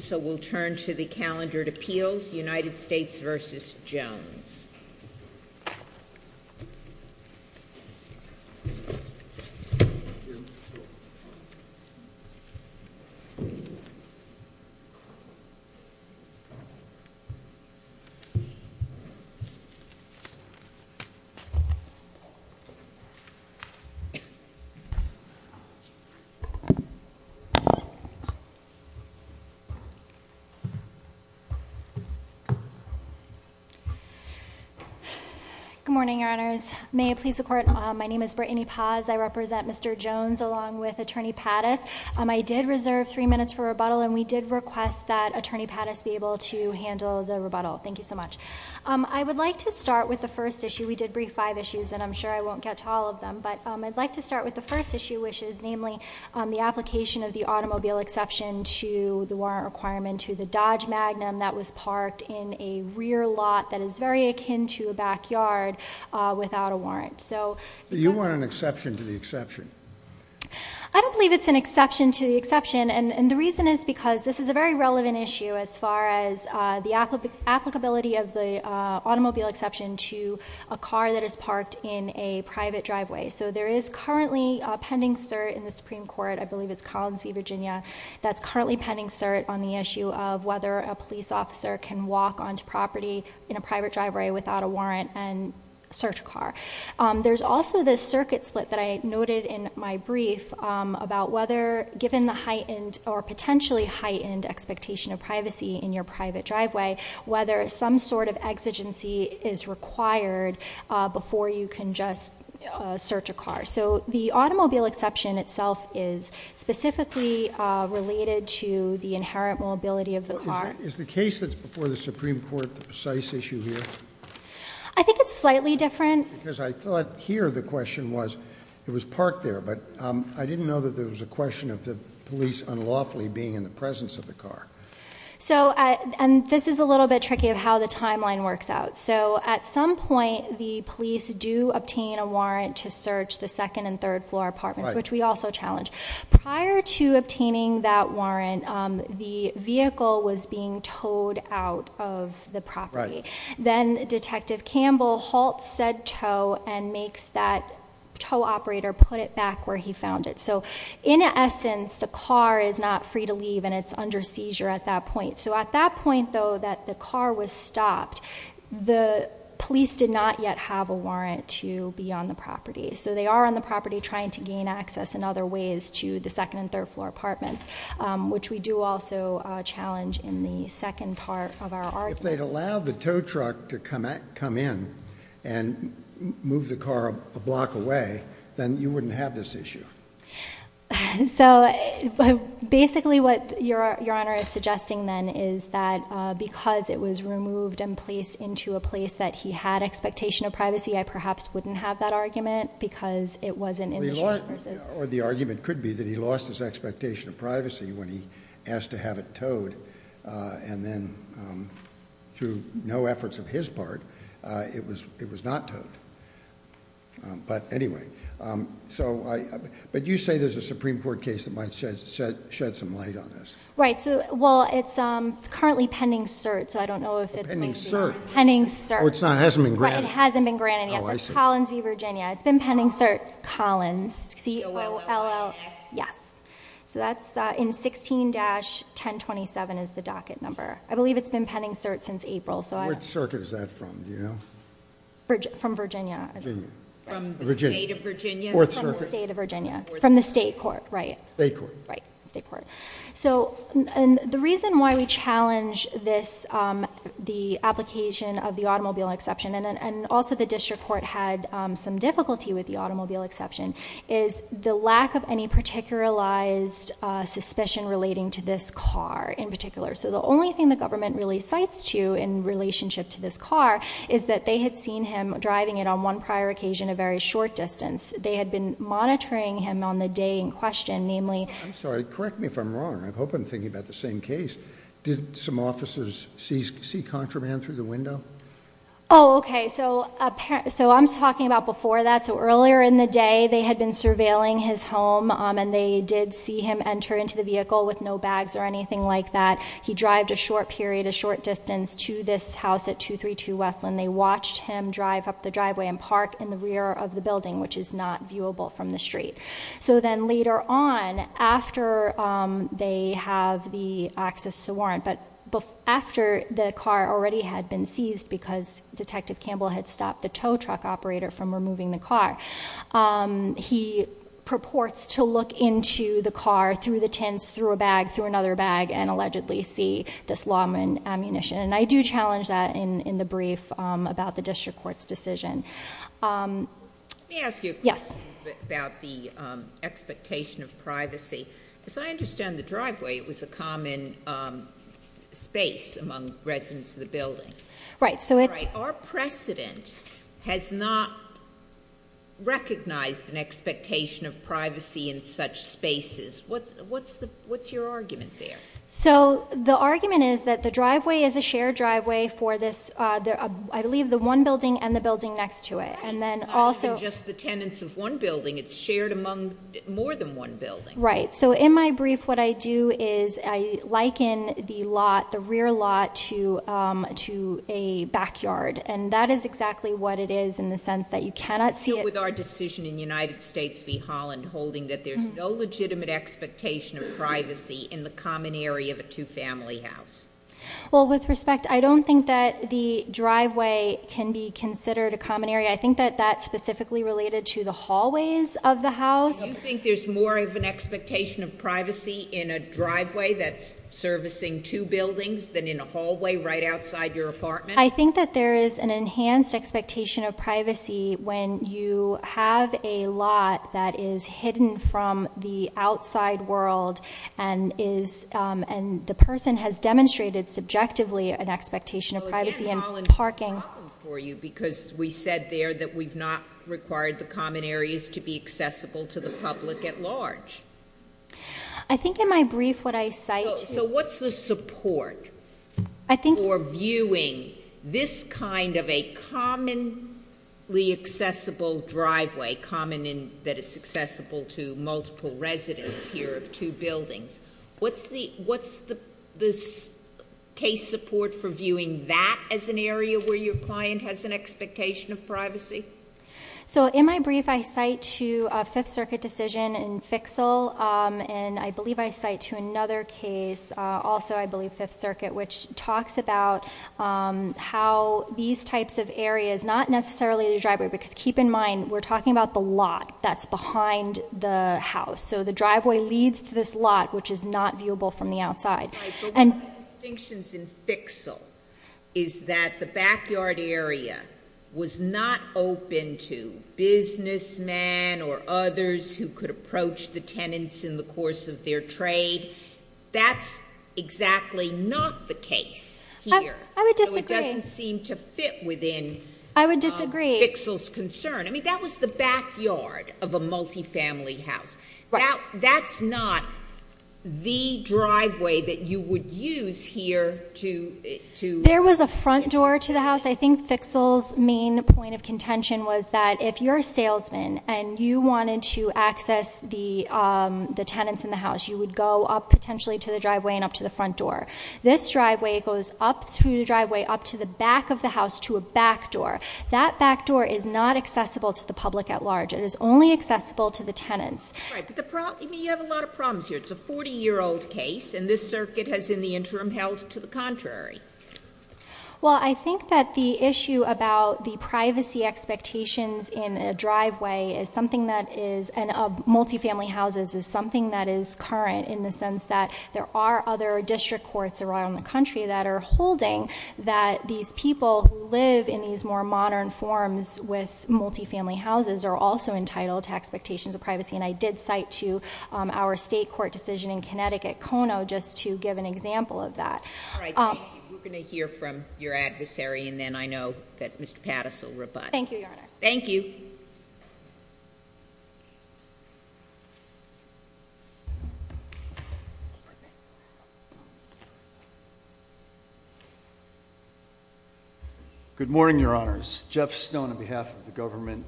So we'll turn to the calendared appeals, United States v. Jones. Good morning, your honors. May it please the court, my name is Brittany Paz, I represent Mr. Jones along with Attorney Pattis. I did reserve three minutes for rebuttal and we did request that Attorney Pattis be able to handle the rebuttal. Thank you so much. I would like to start with the first issue. We did brief five issues and I'm sure I won't get to all of them, but I'd like to start with the first issue, which is namely the application of the automobile exception to the warrant requirement to the Dodge Magnum that was parked in a rear lot that is very akin to a backyard without a warrant. So you want an exception to the exception? I don't believe it's an exception to the exception and the reason is because this is a very relevant issue as far as the applicability of the automobile exception to a car that is parked in a private driveway. So there is currently a pending cert in the Supreme Court, I believe it's Collins v. Virginia, that's currently pending cert on the issue of whether a police officer can walk onto property in a private driveway without a warrant and search a car. There's also this circuit split that I noted in my brief about whether given the heightened or potentially heightened expectation of privacy in your private driveway, whether some sort of exigency is required before you can just search a car. So the automobile exception itself is specifically related to the inherent mobility of the car. Is the case that's before the Supreme Court the precise issue here? I think it's slightly different. Because I thought here the question was, it was parked there, but I didn't know that there was a question of the police unlawfully being in the presence of the car. This is a little bit tricky of how the timeline works out. So at some point, the police do obtain a warrant to search the second and third floor apartments, which we also challenge. Prior to obtaining that warrant, the vehicle was being towed out of the property. Then Detective Campbell halts said tow and makes that tow operator put it back where he found it. So in essence, the car is not free to leave and it's under seizure at that point. So at that point, though, that the car was stopped, the police did not yet have a warrant to be on the property. So they are on the property trying to gain access in other ways to the second and third floor apartments, which we do also challenge in the second part of our argument. If they'd allowed the tow truck to come in and move the car a block away, then you wouldn't have this issue. So basically what your honor is suggesting then is that because it was removed and placed into a place that he had expectation of privacy, I perhaps wouldn't have that argument because it wasn't in the- Or the argument could be that he lost his expectation of privacy when he asked to have it towed. And then through no efforts of his part, it was not towed. But anyway, so I, but you say there's a Supreme Court case that might shed some light on this. Right, so, well, it's currently pending cert, so I don't know if it's- Pending cert. Pending cert. It's not, it hasn't been granted. It hasn't been granted yet. Oh, I see. Collins v. Virginia. It's been pending cert. Collins. C-O-L-L-S. Yes. So that's in 16-1027 is the docket number. I believe it's been pending cert since April, so I- Which circuit is that from, do you know? From Virginia. Virginia. From the state of Virginia? Fourth circuit. From the state of Virginia. From the state court, right. State court. Right, state court. So, and the reason why we challenge this, the application of the automobile exception, and also the district court had some difficulty with the automobile exception, is the lack of any particularized suspicion relating to this car in particular. So the only thing the government really cites to in relationship to this car, is that they had seen him driving it on one prior occasion a very short distance. They had been monitoring him on the day in question, namely- I'm sorry, correct me if I'm wrong. I hope I'm thinking about the same case. Did some officers see contraband through the window? Okay, so I'm talking about before that. So earlier in the day, they had been surveilling his home, and they did see him enter into the vehicle with no bags or anything like that. He drived a short period, a short distance to this house at 232 Westland. They watched him drive up the driveway and park in the rear of the building, which is not viewable from the street. So then later on, after they have the access to the warrant, but after the car already had been seized because Detective Campbell had stopped the tow truck operator from removing the car. He purports to look into the car through the tents, through a bag, through another bag, and allegedly see this lawman ammunition. And I do challenge that in the brief about the district court's decision. Yes. Let me ask you about the expectation of privacy. As I understand the driveway, it was a common space among residents of the building. Right, so it's- All right, our precedent has not recognized an expectation of privacy in such spaces. What's your argument there? So the argument is that the driveway is a shared driveway for this, I believe, the one building and the building next to it. And then also- It's not just the tenants of one building, it's shared among more than one building. Right, so in my brief, what I do is I liken the lot, the rear lot, to a backyard. And that is exactly what it is in the sense that you cannot see it- So with our decision in United States v Holland holding that there's no legitimate expectation of privacy in the common area of a two family house. Well, with respect, I don't think that the driveway can be considered a common area. I think that that's specifically related to the hallways of the house. Do you think there's more of an expectation of privacy in a driveway that's servicing two buildings than in a hallway right outside your apartment? I think that there is an enhanced expectation of privacy when you have a lot that is hidden from the outside world and the person has demonstrated subjectively an expectation of privacy in parking. I'm asking for you because we said there that we've not required the common areas to be accessible to the public at large. I think in my brief what I cite- So what's the support for viewing this kind of a commonly accessible driveway, common in that it's accessible to multiple residents here of two buildings. What's the case support for viewing that as an area where your client has an expectation of privacy? So in my brief, I cite to a Fifth Circuit decision in Fixal, and I believe I cite to another case, also I believe Fifth Circuit, which talks about how these types of areas, not necessarily the driveway, because keep in mind, we're talking about the lot that's behind the house. So the driveway leads to this lot, which is not viewable from the outside. Right, but one of the distinctions in Fixal is that the backyard area was not open to businessmen or others who could approach the tenants in the course of their trade. That's exactly not the case here. I would disagree. So it doesn't seem to fit within- I would disagree. Fixal's concern. I mean, that was the backyard of a multi-family house. That's not the driveway that you would use here to- There was a front door to the house. I think Fixal's main point of contention was that if you're a salesman and you wanted to access the tenants in the house, you would go up potentially to the driveway and up to the front door. This driveway goes up through the driveway up to the back of the house to a back door. That back door is not accessible to the public at large. It is only accessible to the tenants. Right, but you have a lot of problems here. It's a 40 year old case, and this circuit has in the interim held to the contrary. Well, I think that the issue about the privacy expectations in a driveway is something that is, and of multi-family houses, is something that is current in the sense that there are other district courts around the country that are holding that these people who live in these more modern forms with multi-family houses are also entitled to expectations of privacy. And I did cite to our state court decision in Connecticut, Kono, just to give an example of that. All right, we're going to hear from your adversary, and then I know that Mr. Patas will rebut. Thank you, Your Honor. Thank you. Good morning, Your Honors. Jeff Stone on behalf of the government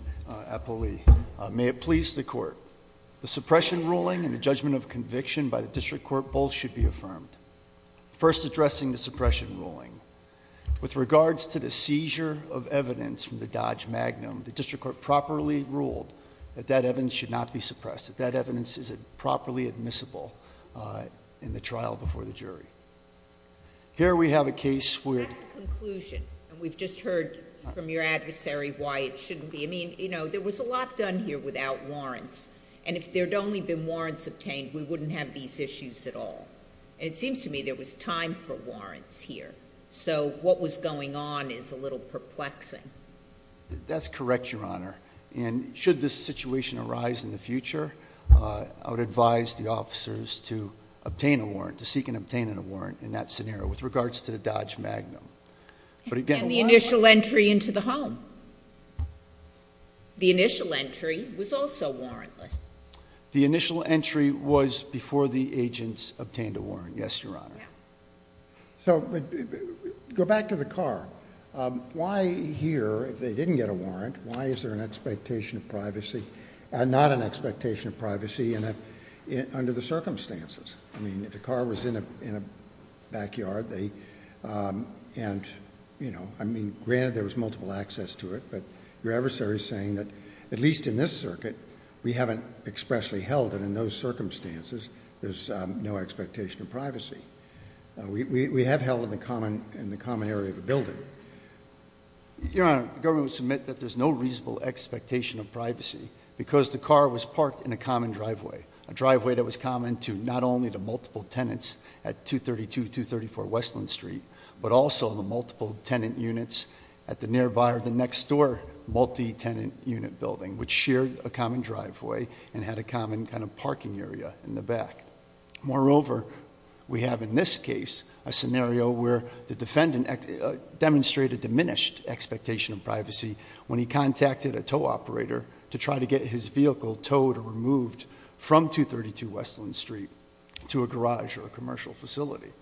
at Poli. May it please the court. The suppression ruling and the judgment of conviction by the district court both should be affirmed. First, addressing the suppression ruling. With regards to the seizure of evidence from the Dodge Magnum, the district court properly ruled that that evidence should not be suppressed, that that evidence is properly admissible in the trial before the jury. Here we have a case where- That's a conclusion, and we've just heard from your adversary why it shouldn't be. I mean, there was a lot done here without warrants. And if there'd only been warrants obtained, we wouldn't have these issues at all. And it seems to me there was time for warrants here, so what was going on is a little perplexing. That's correct, Your Honor. And should this situation arise in the future, I would advise the officers to obtain a warrant, to seek and obtain a warrant in that scenario with regards to the Dodge Magnum. But again, why- And the initial entry into the home. The initial entry was also warrantless. The initial entry was before the agents obtained a warrant. Yes, Your Honor. So, go back to the car. Why here, if they didn't get a warrant, why is there an expectation of privacy, under the circumstances? I mean, if the car was in a backyard, and, you know, I mean, granted there was multiple access to it, but your adversary's saying that, at least in this circuit, we haven't expressly held it in those circumstances, there's no expectation of privacy. We have held it in the common area of the building. Your Honor, the government would submit that there's no reasonable expectation of privacy, because the car was parked in a common driveway, a driveway that was common to not only the multiple tenants at 232-234 Westland Street, but also the multiple tenant units at the nearby or the next door multi-tenant unit building, which shared a common driveway and had a common kind of parking area in the back. Moreover, we have in this case a scenario where the defendant demonstrated diminished expectation of privacy when he contacted a tow operator to try to get his vehicle towed or removed from 232 Westland Street to a garage or a commercial facility.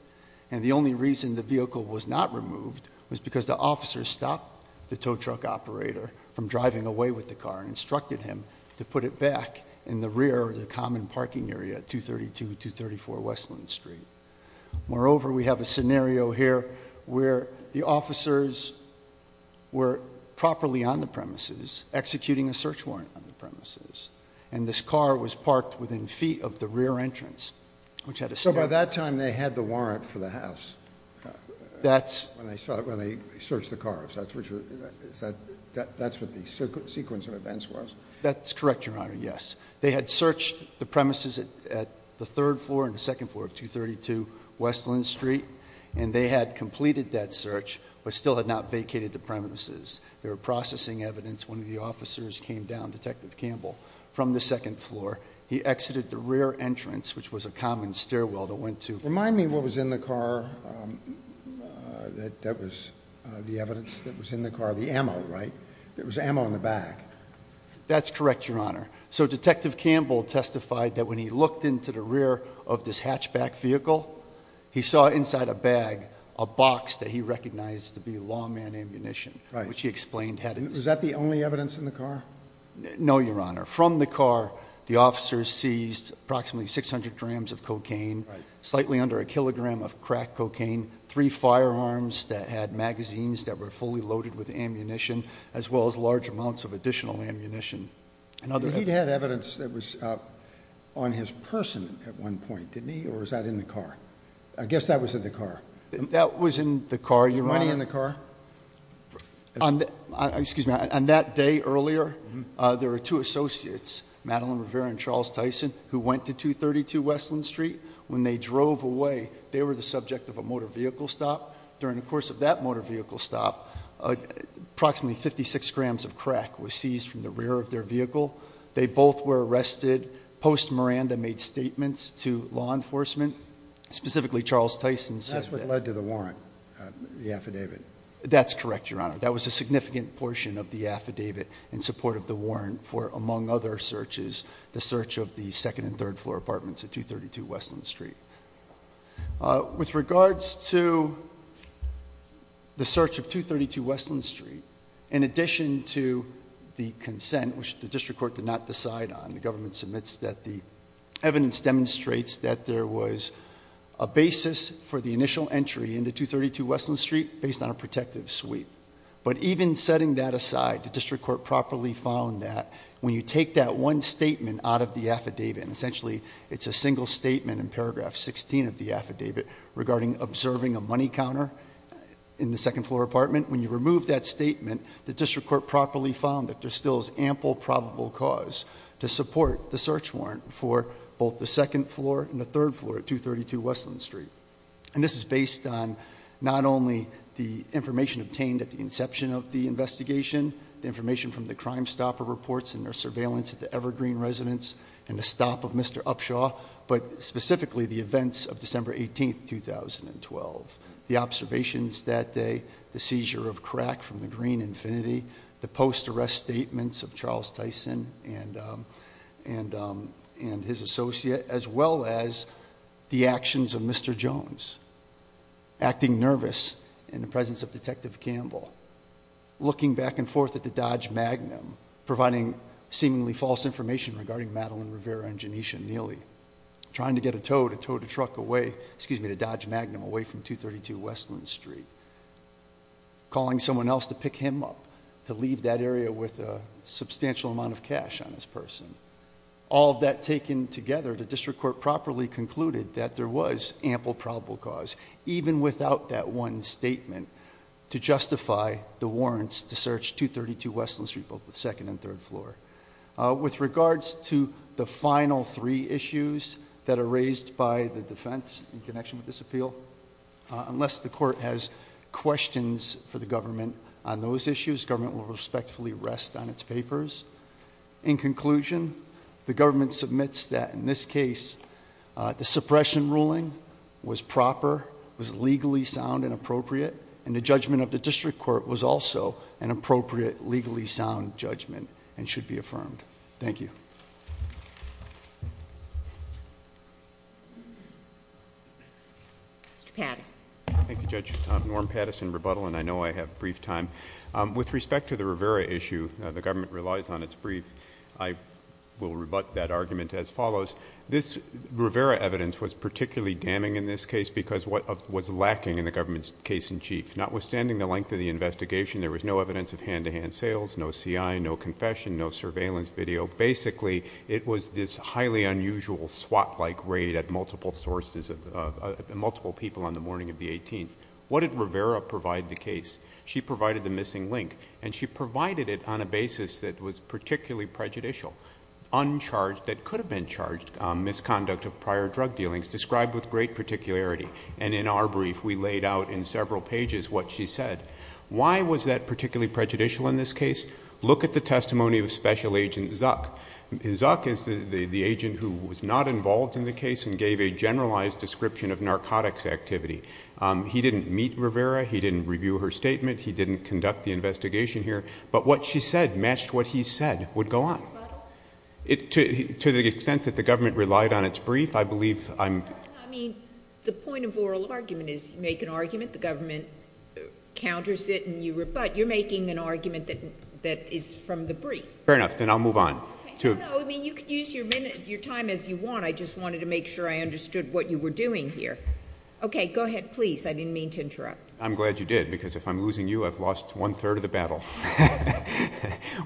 And the only reason the vehicle was not removed was because the officer stopped the tow truck operator from driving away with the car and instructed him to put it back in the rear of the common parking area at 232-234 Westland Street. Moreover, we have a scenario here where the officers were properly on the premises, executing a search warrant on the premises, and this car was parked within feet of the rear entrance, which had a- So by that time, they had the warrant for the house. That's- When they searched the cars, that's what the sequence of events was? That's correct, Your Honor, yes. They had searched the premises at the third floor and the second floor of 232 Westland Street. And they had completed that search, but still had not vacated the premises. They were processing evidence when the officers came down, Detective Campbell, from the second floor. He exited the rear entrance, which was a common stairwell that went to- Remind me what was in the car that was the evidence that was in the car, the ammo, right? There was ammo in the back. That's correct, Your Honor. So Detective Campbell testified that when he looked into the rear of this hatchback vehicle, he saw inside a bag a box that he recognized to be lawman ammunition, which he explained had- Was that the only evidence in the car? No, Your Honor. From the car, the officers seized approximately 600 grams of cocaine, slightly under a kilogram of crack cocaine, three firearms that had magazines that were fully loaded with ammunition, as well as large amounts of additional ammunition and other- He had evidence that was on his person at one point, didn't he? Or was that in the car? I guess that was in the car. That was in the car, Your Honor. Was money in the car? On that day earlier, there were two associates, Madeline Rivera and Charles Tyson, who went to 232 Westland Street. When they drove away, they were the subject of a motor vehicle stop. During the course of that motor vehicle stop, approximately 56 grams of crack was seized from the rear of their vehicle. They both were arrested. Post Miranda made statements to law enforcement, specifically Charles Tyson's- That's what led to the warrant, the affidavit. That's correct, Your Honor. That was a significant portion of the affidavit in support of the warrant for, among other searches, the search of the second and third floor apartments at 232 Westland Street. With regards to the search of 232 Westland Street, in addition to the consent, which the district court did not decide on, the government submits that the evidence demonstrates that there was a basis for the initial entry into 232 Westland Street based on a protective suite. But even setting that aside, the district court properly found that when you take that one statement out of the affidavit, and essentially it's a single statement in paragraph 16 of the affidavit regarding observing a money counter in the second floor apartment. When you remove that statement, the district court properly found that there still is ample probable cause to support the search warrant for both the second floor and the third floor at 232 Westland Street. And this is based on not only the information obtained at the inception of the investigation, the information from the Crime Stopper reports and their surveillance at the Evergreen residence and the stop of Mr. Upshaw. But specifically the events of December 18th, 2012. The observations that day, the seizure of crack from the Green Infinity, the post arrest statements of Charles Tyson and his associate, as well as the actions of Mr. Jones, acting nervous in the presence of Detective Campbell. Looking back and forth at the Dodge Magnum, providing seemingly false information regarding Madeline Rivera and Janisha Neely, trying to get a tow to tow the truck away, excuse me, the Dodge Magnum away from 232 Westland Street. Calling someone else to pick him up, to leave that area with a substantial amount of cash on this person. All of that taken together, the district court properly concluded that there was ample probable cause, even without that one statement, to justify the warrants to search 232 Westland Street, both the second and third floor. With regards to the final three issues that are raised by the defense in connection with this appeal, unless the court has questions for the government on those issues, government will respectfully rest on its papers. In conclusion, the government submits that in this case, the suppression ruling was proper, was legally sound and appropriate. And the judgment of the district court was also an appropriate, legally sound judgment and should be affirmed. Thank you. Mr. Patterson. Thank you, Judge. Norm Patterson, rebuttal, and I know I have brief time. With respect to the Rivera issue, the government relies on its brief. I will rebut that argument as follows. This Rivera evidence was particularly damning in this case because of what was lacking in the government's case in chief. Notwithstanding the length of the investigation, there was no evidence of hand-to-hand sales, no CI, no confession, no surveillance video. Basically, it was this highly unusual SWAT-like raid at multiple people on the morning of the 18th. What did Rivera provide the case? She provided the missing link, and she provided it on a basis that was particularly prejudicial. Uncharged, that could have been charged, misconduct of prior drug dealings, described with great particularity. And in our brief, we laid out in several pages what she said. Why was that particularly prejudicial in this case? Look at the testimony of Special Agent Zuck. Zuck is the agent who was not involved in the case and gave a generalized description of narcotics activity. He didn't meet Rivera, he didn't review her statement, he didn't conduct the investigation here. But what she said matched what he said would go on. To the extent that the government relied on its brief, I believe I'm- I mean, the point of oral argument is you make an argument, the government counters it, and you rebut. You're making an argument that is from the brief. Fair enough, then I'll move on to- No, no, I mean, you could use your time as you want. I just wanted to make sure I understood what you were doing here. Okay, go ahead, please. I didn't mean to interrupt. I'm glad you did, because if I'm losing you, I've lost one-third of the battle.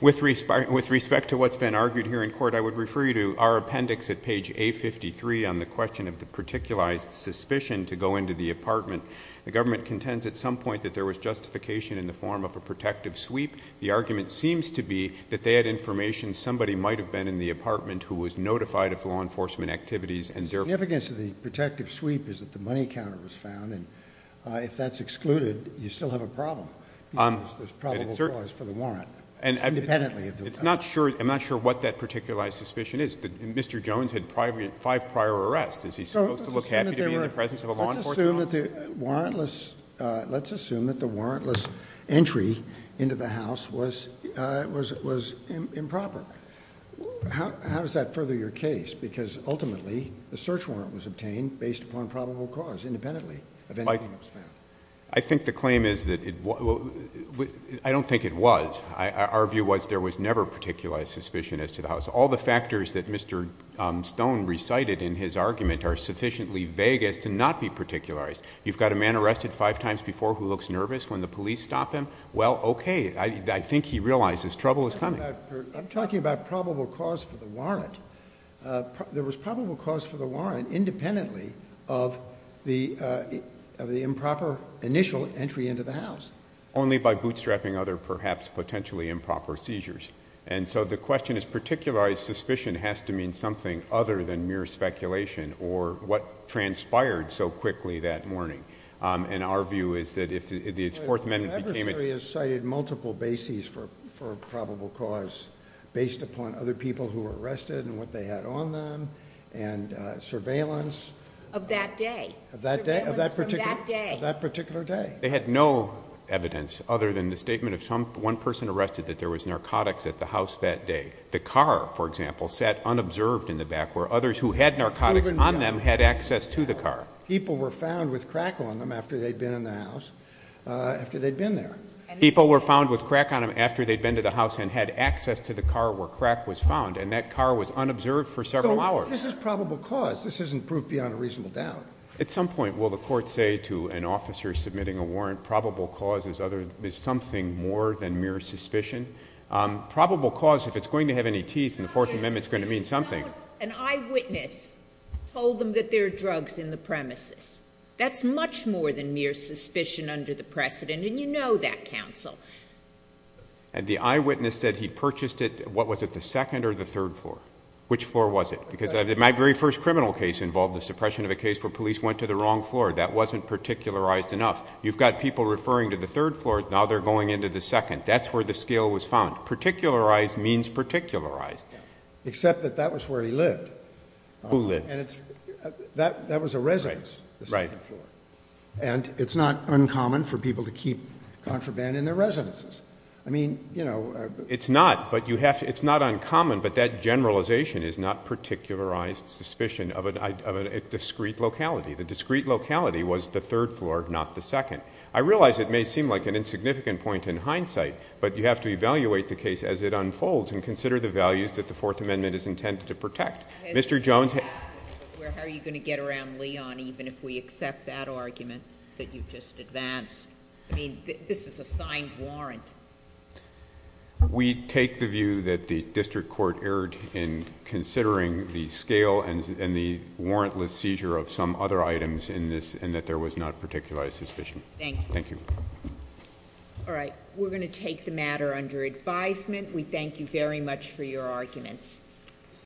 With respect to what's been argued here in court, I would refer you to our appendix at page A53 on the question of the particularized suspicion to go into the apartment. The government contends at some point that there was justification in the form of a protective sweep. The argument seems to be that they had information somebody might have been in the apartment who was notified of law enforcement activities and their- The significance of the protective sweep is that the money counter was found, and if that's excluded, you still have a problem. Because there's probable cause for the warrant, independently of the- It's not sure, I'm not sure what that particularized suspicion is. Mr. Jones had five prior arrests. Is he supposed to look happy to be in the presence of a law enforcement officer? Let's assume that the warrantless entry into the house was improper. How does that further your case? Because ultimately, the search warrant was obtained based upon probable cause, independently of anything that was found. I think the claim is that it, I don't think it was. Our view was there was never particularized suspicion as to the house. All the factors that Mr. Stone recited in his argument are sufficiently vague as to not be particularized. You've got a man arrested five times before who looks nervous when the police stop him. Well, okay, I think he realizes trouble is coming. I'm talking about probable cause for the warrant. There was probable cause for the warrant independently of the improper initial entry into the house. Only by bootstrapping other perhaps potentially improper seizures. And so the question is particularized suspicion has to mean something other than mere speculation or what transpired so quickly that morning. And our view is that if the Fourth Amendment became a- Was based upon other people who were arrested and what they had on them and surveillance. Of that day. Of that day? Of that particular day. Of that particular day. They had no evidence other than the statement of one person arrested that there was narcotics at the house that day. The car, for example, sat unobserved in the back where others who had narcotics on them had access to the car. People were found with crack on them after they'd been in the house, after they'd been there. People were found with crack on them after they'd been to the house and had access to the car where crack was found. And that car was unobserved for several hours. This is probable cause. This isn't proof beyond a reasonable doubt. At some point, will the court say to an officer submitting a warrant, probable cause is something more than mere suspicion? Probable cause, if it's going to have any teeth in the Fourth Amendment, is going to mean something. An eyewitness told them that there are drugs in the premises. That's much more than mere suspicion under the precedent, and you know that, counsel. And the eyewitness said he purchased it, what was it, the second or the third floor? Which floor was it? Because my very first criminal case involved the suppression of a case where police went to the wrong floor. That wasn't particularized enough. You've got people referring to the third floor, now they're going into the second. That's where the scale was found. Particularized means particularized. Except that that was where he lived. Who lived? And it's, that was a residence, the second floor. And it's not uncommon for people to keep contraband in their residences. I mean, you know. It's not, but you have to, it's not uncommon, but that generalization is not particularized suspicion of a discrete locality. The discrete locality was the third floor, not the second. I realize it may seem like an insignificant point in hindsight, but you have to evaluate the case as it unfolds and consider the values that the Fourth Amendment is intended to protect. Mr. Jones. How are you going to get around Leon even if we accept that argument that you've just advanced? I mean, this is a signed warrant. We take the view that the district court erred in considering the scale and the warrantless seizure of some other items in this, and that there was not particularized suspicion. Thank you. Thank you. All right, we're going to take the matter under advisement. We thank you very much for your arguments.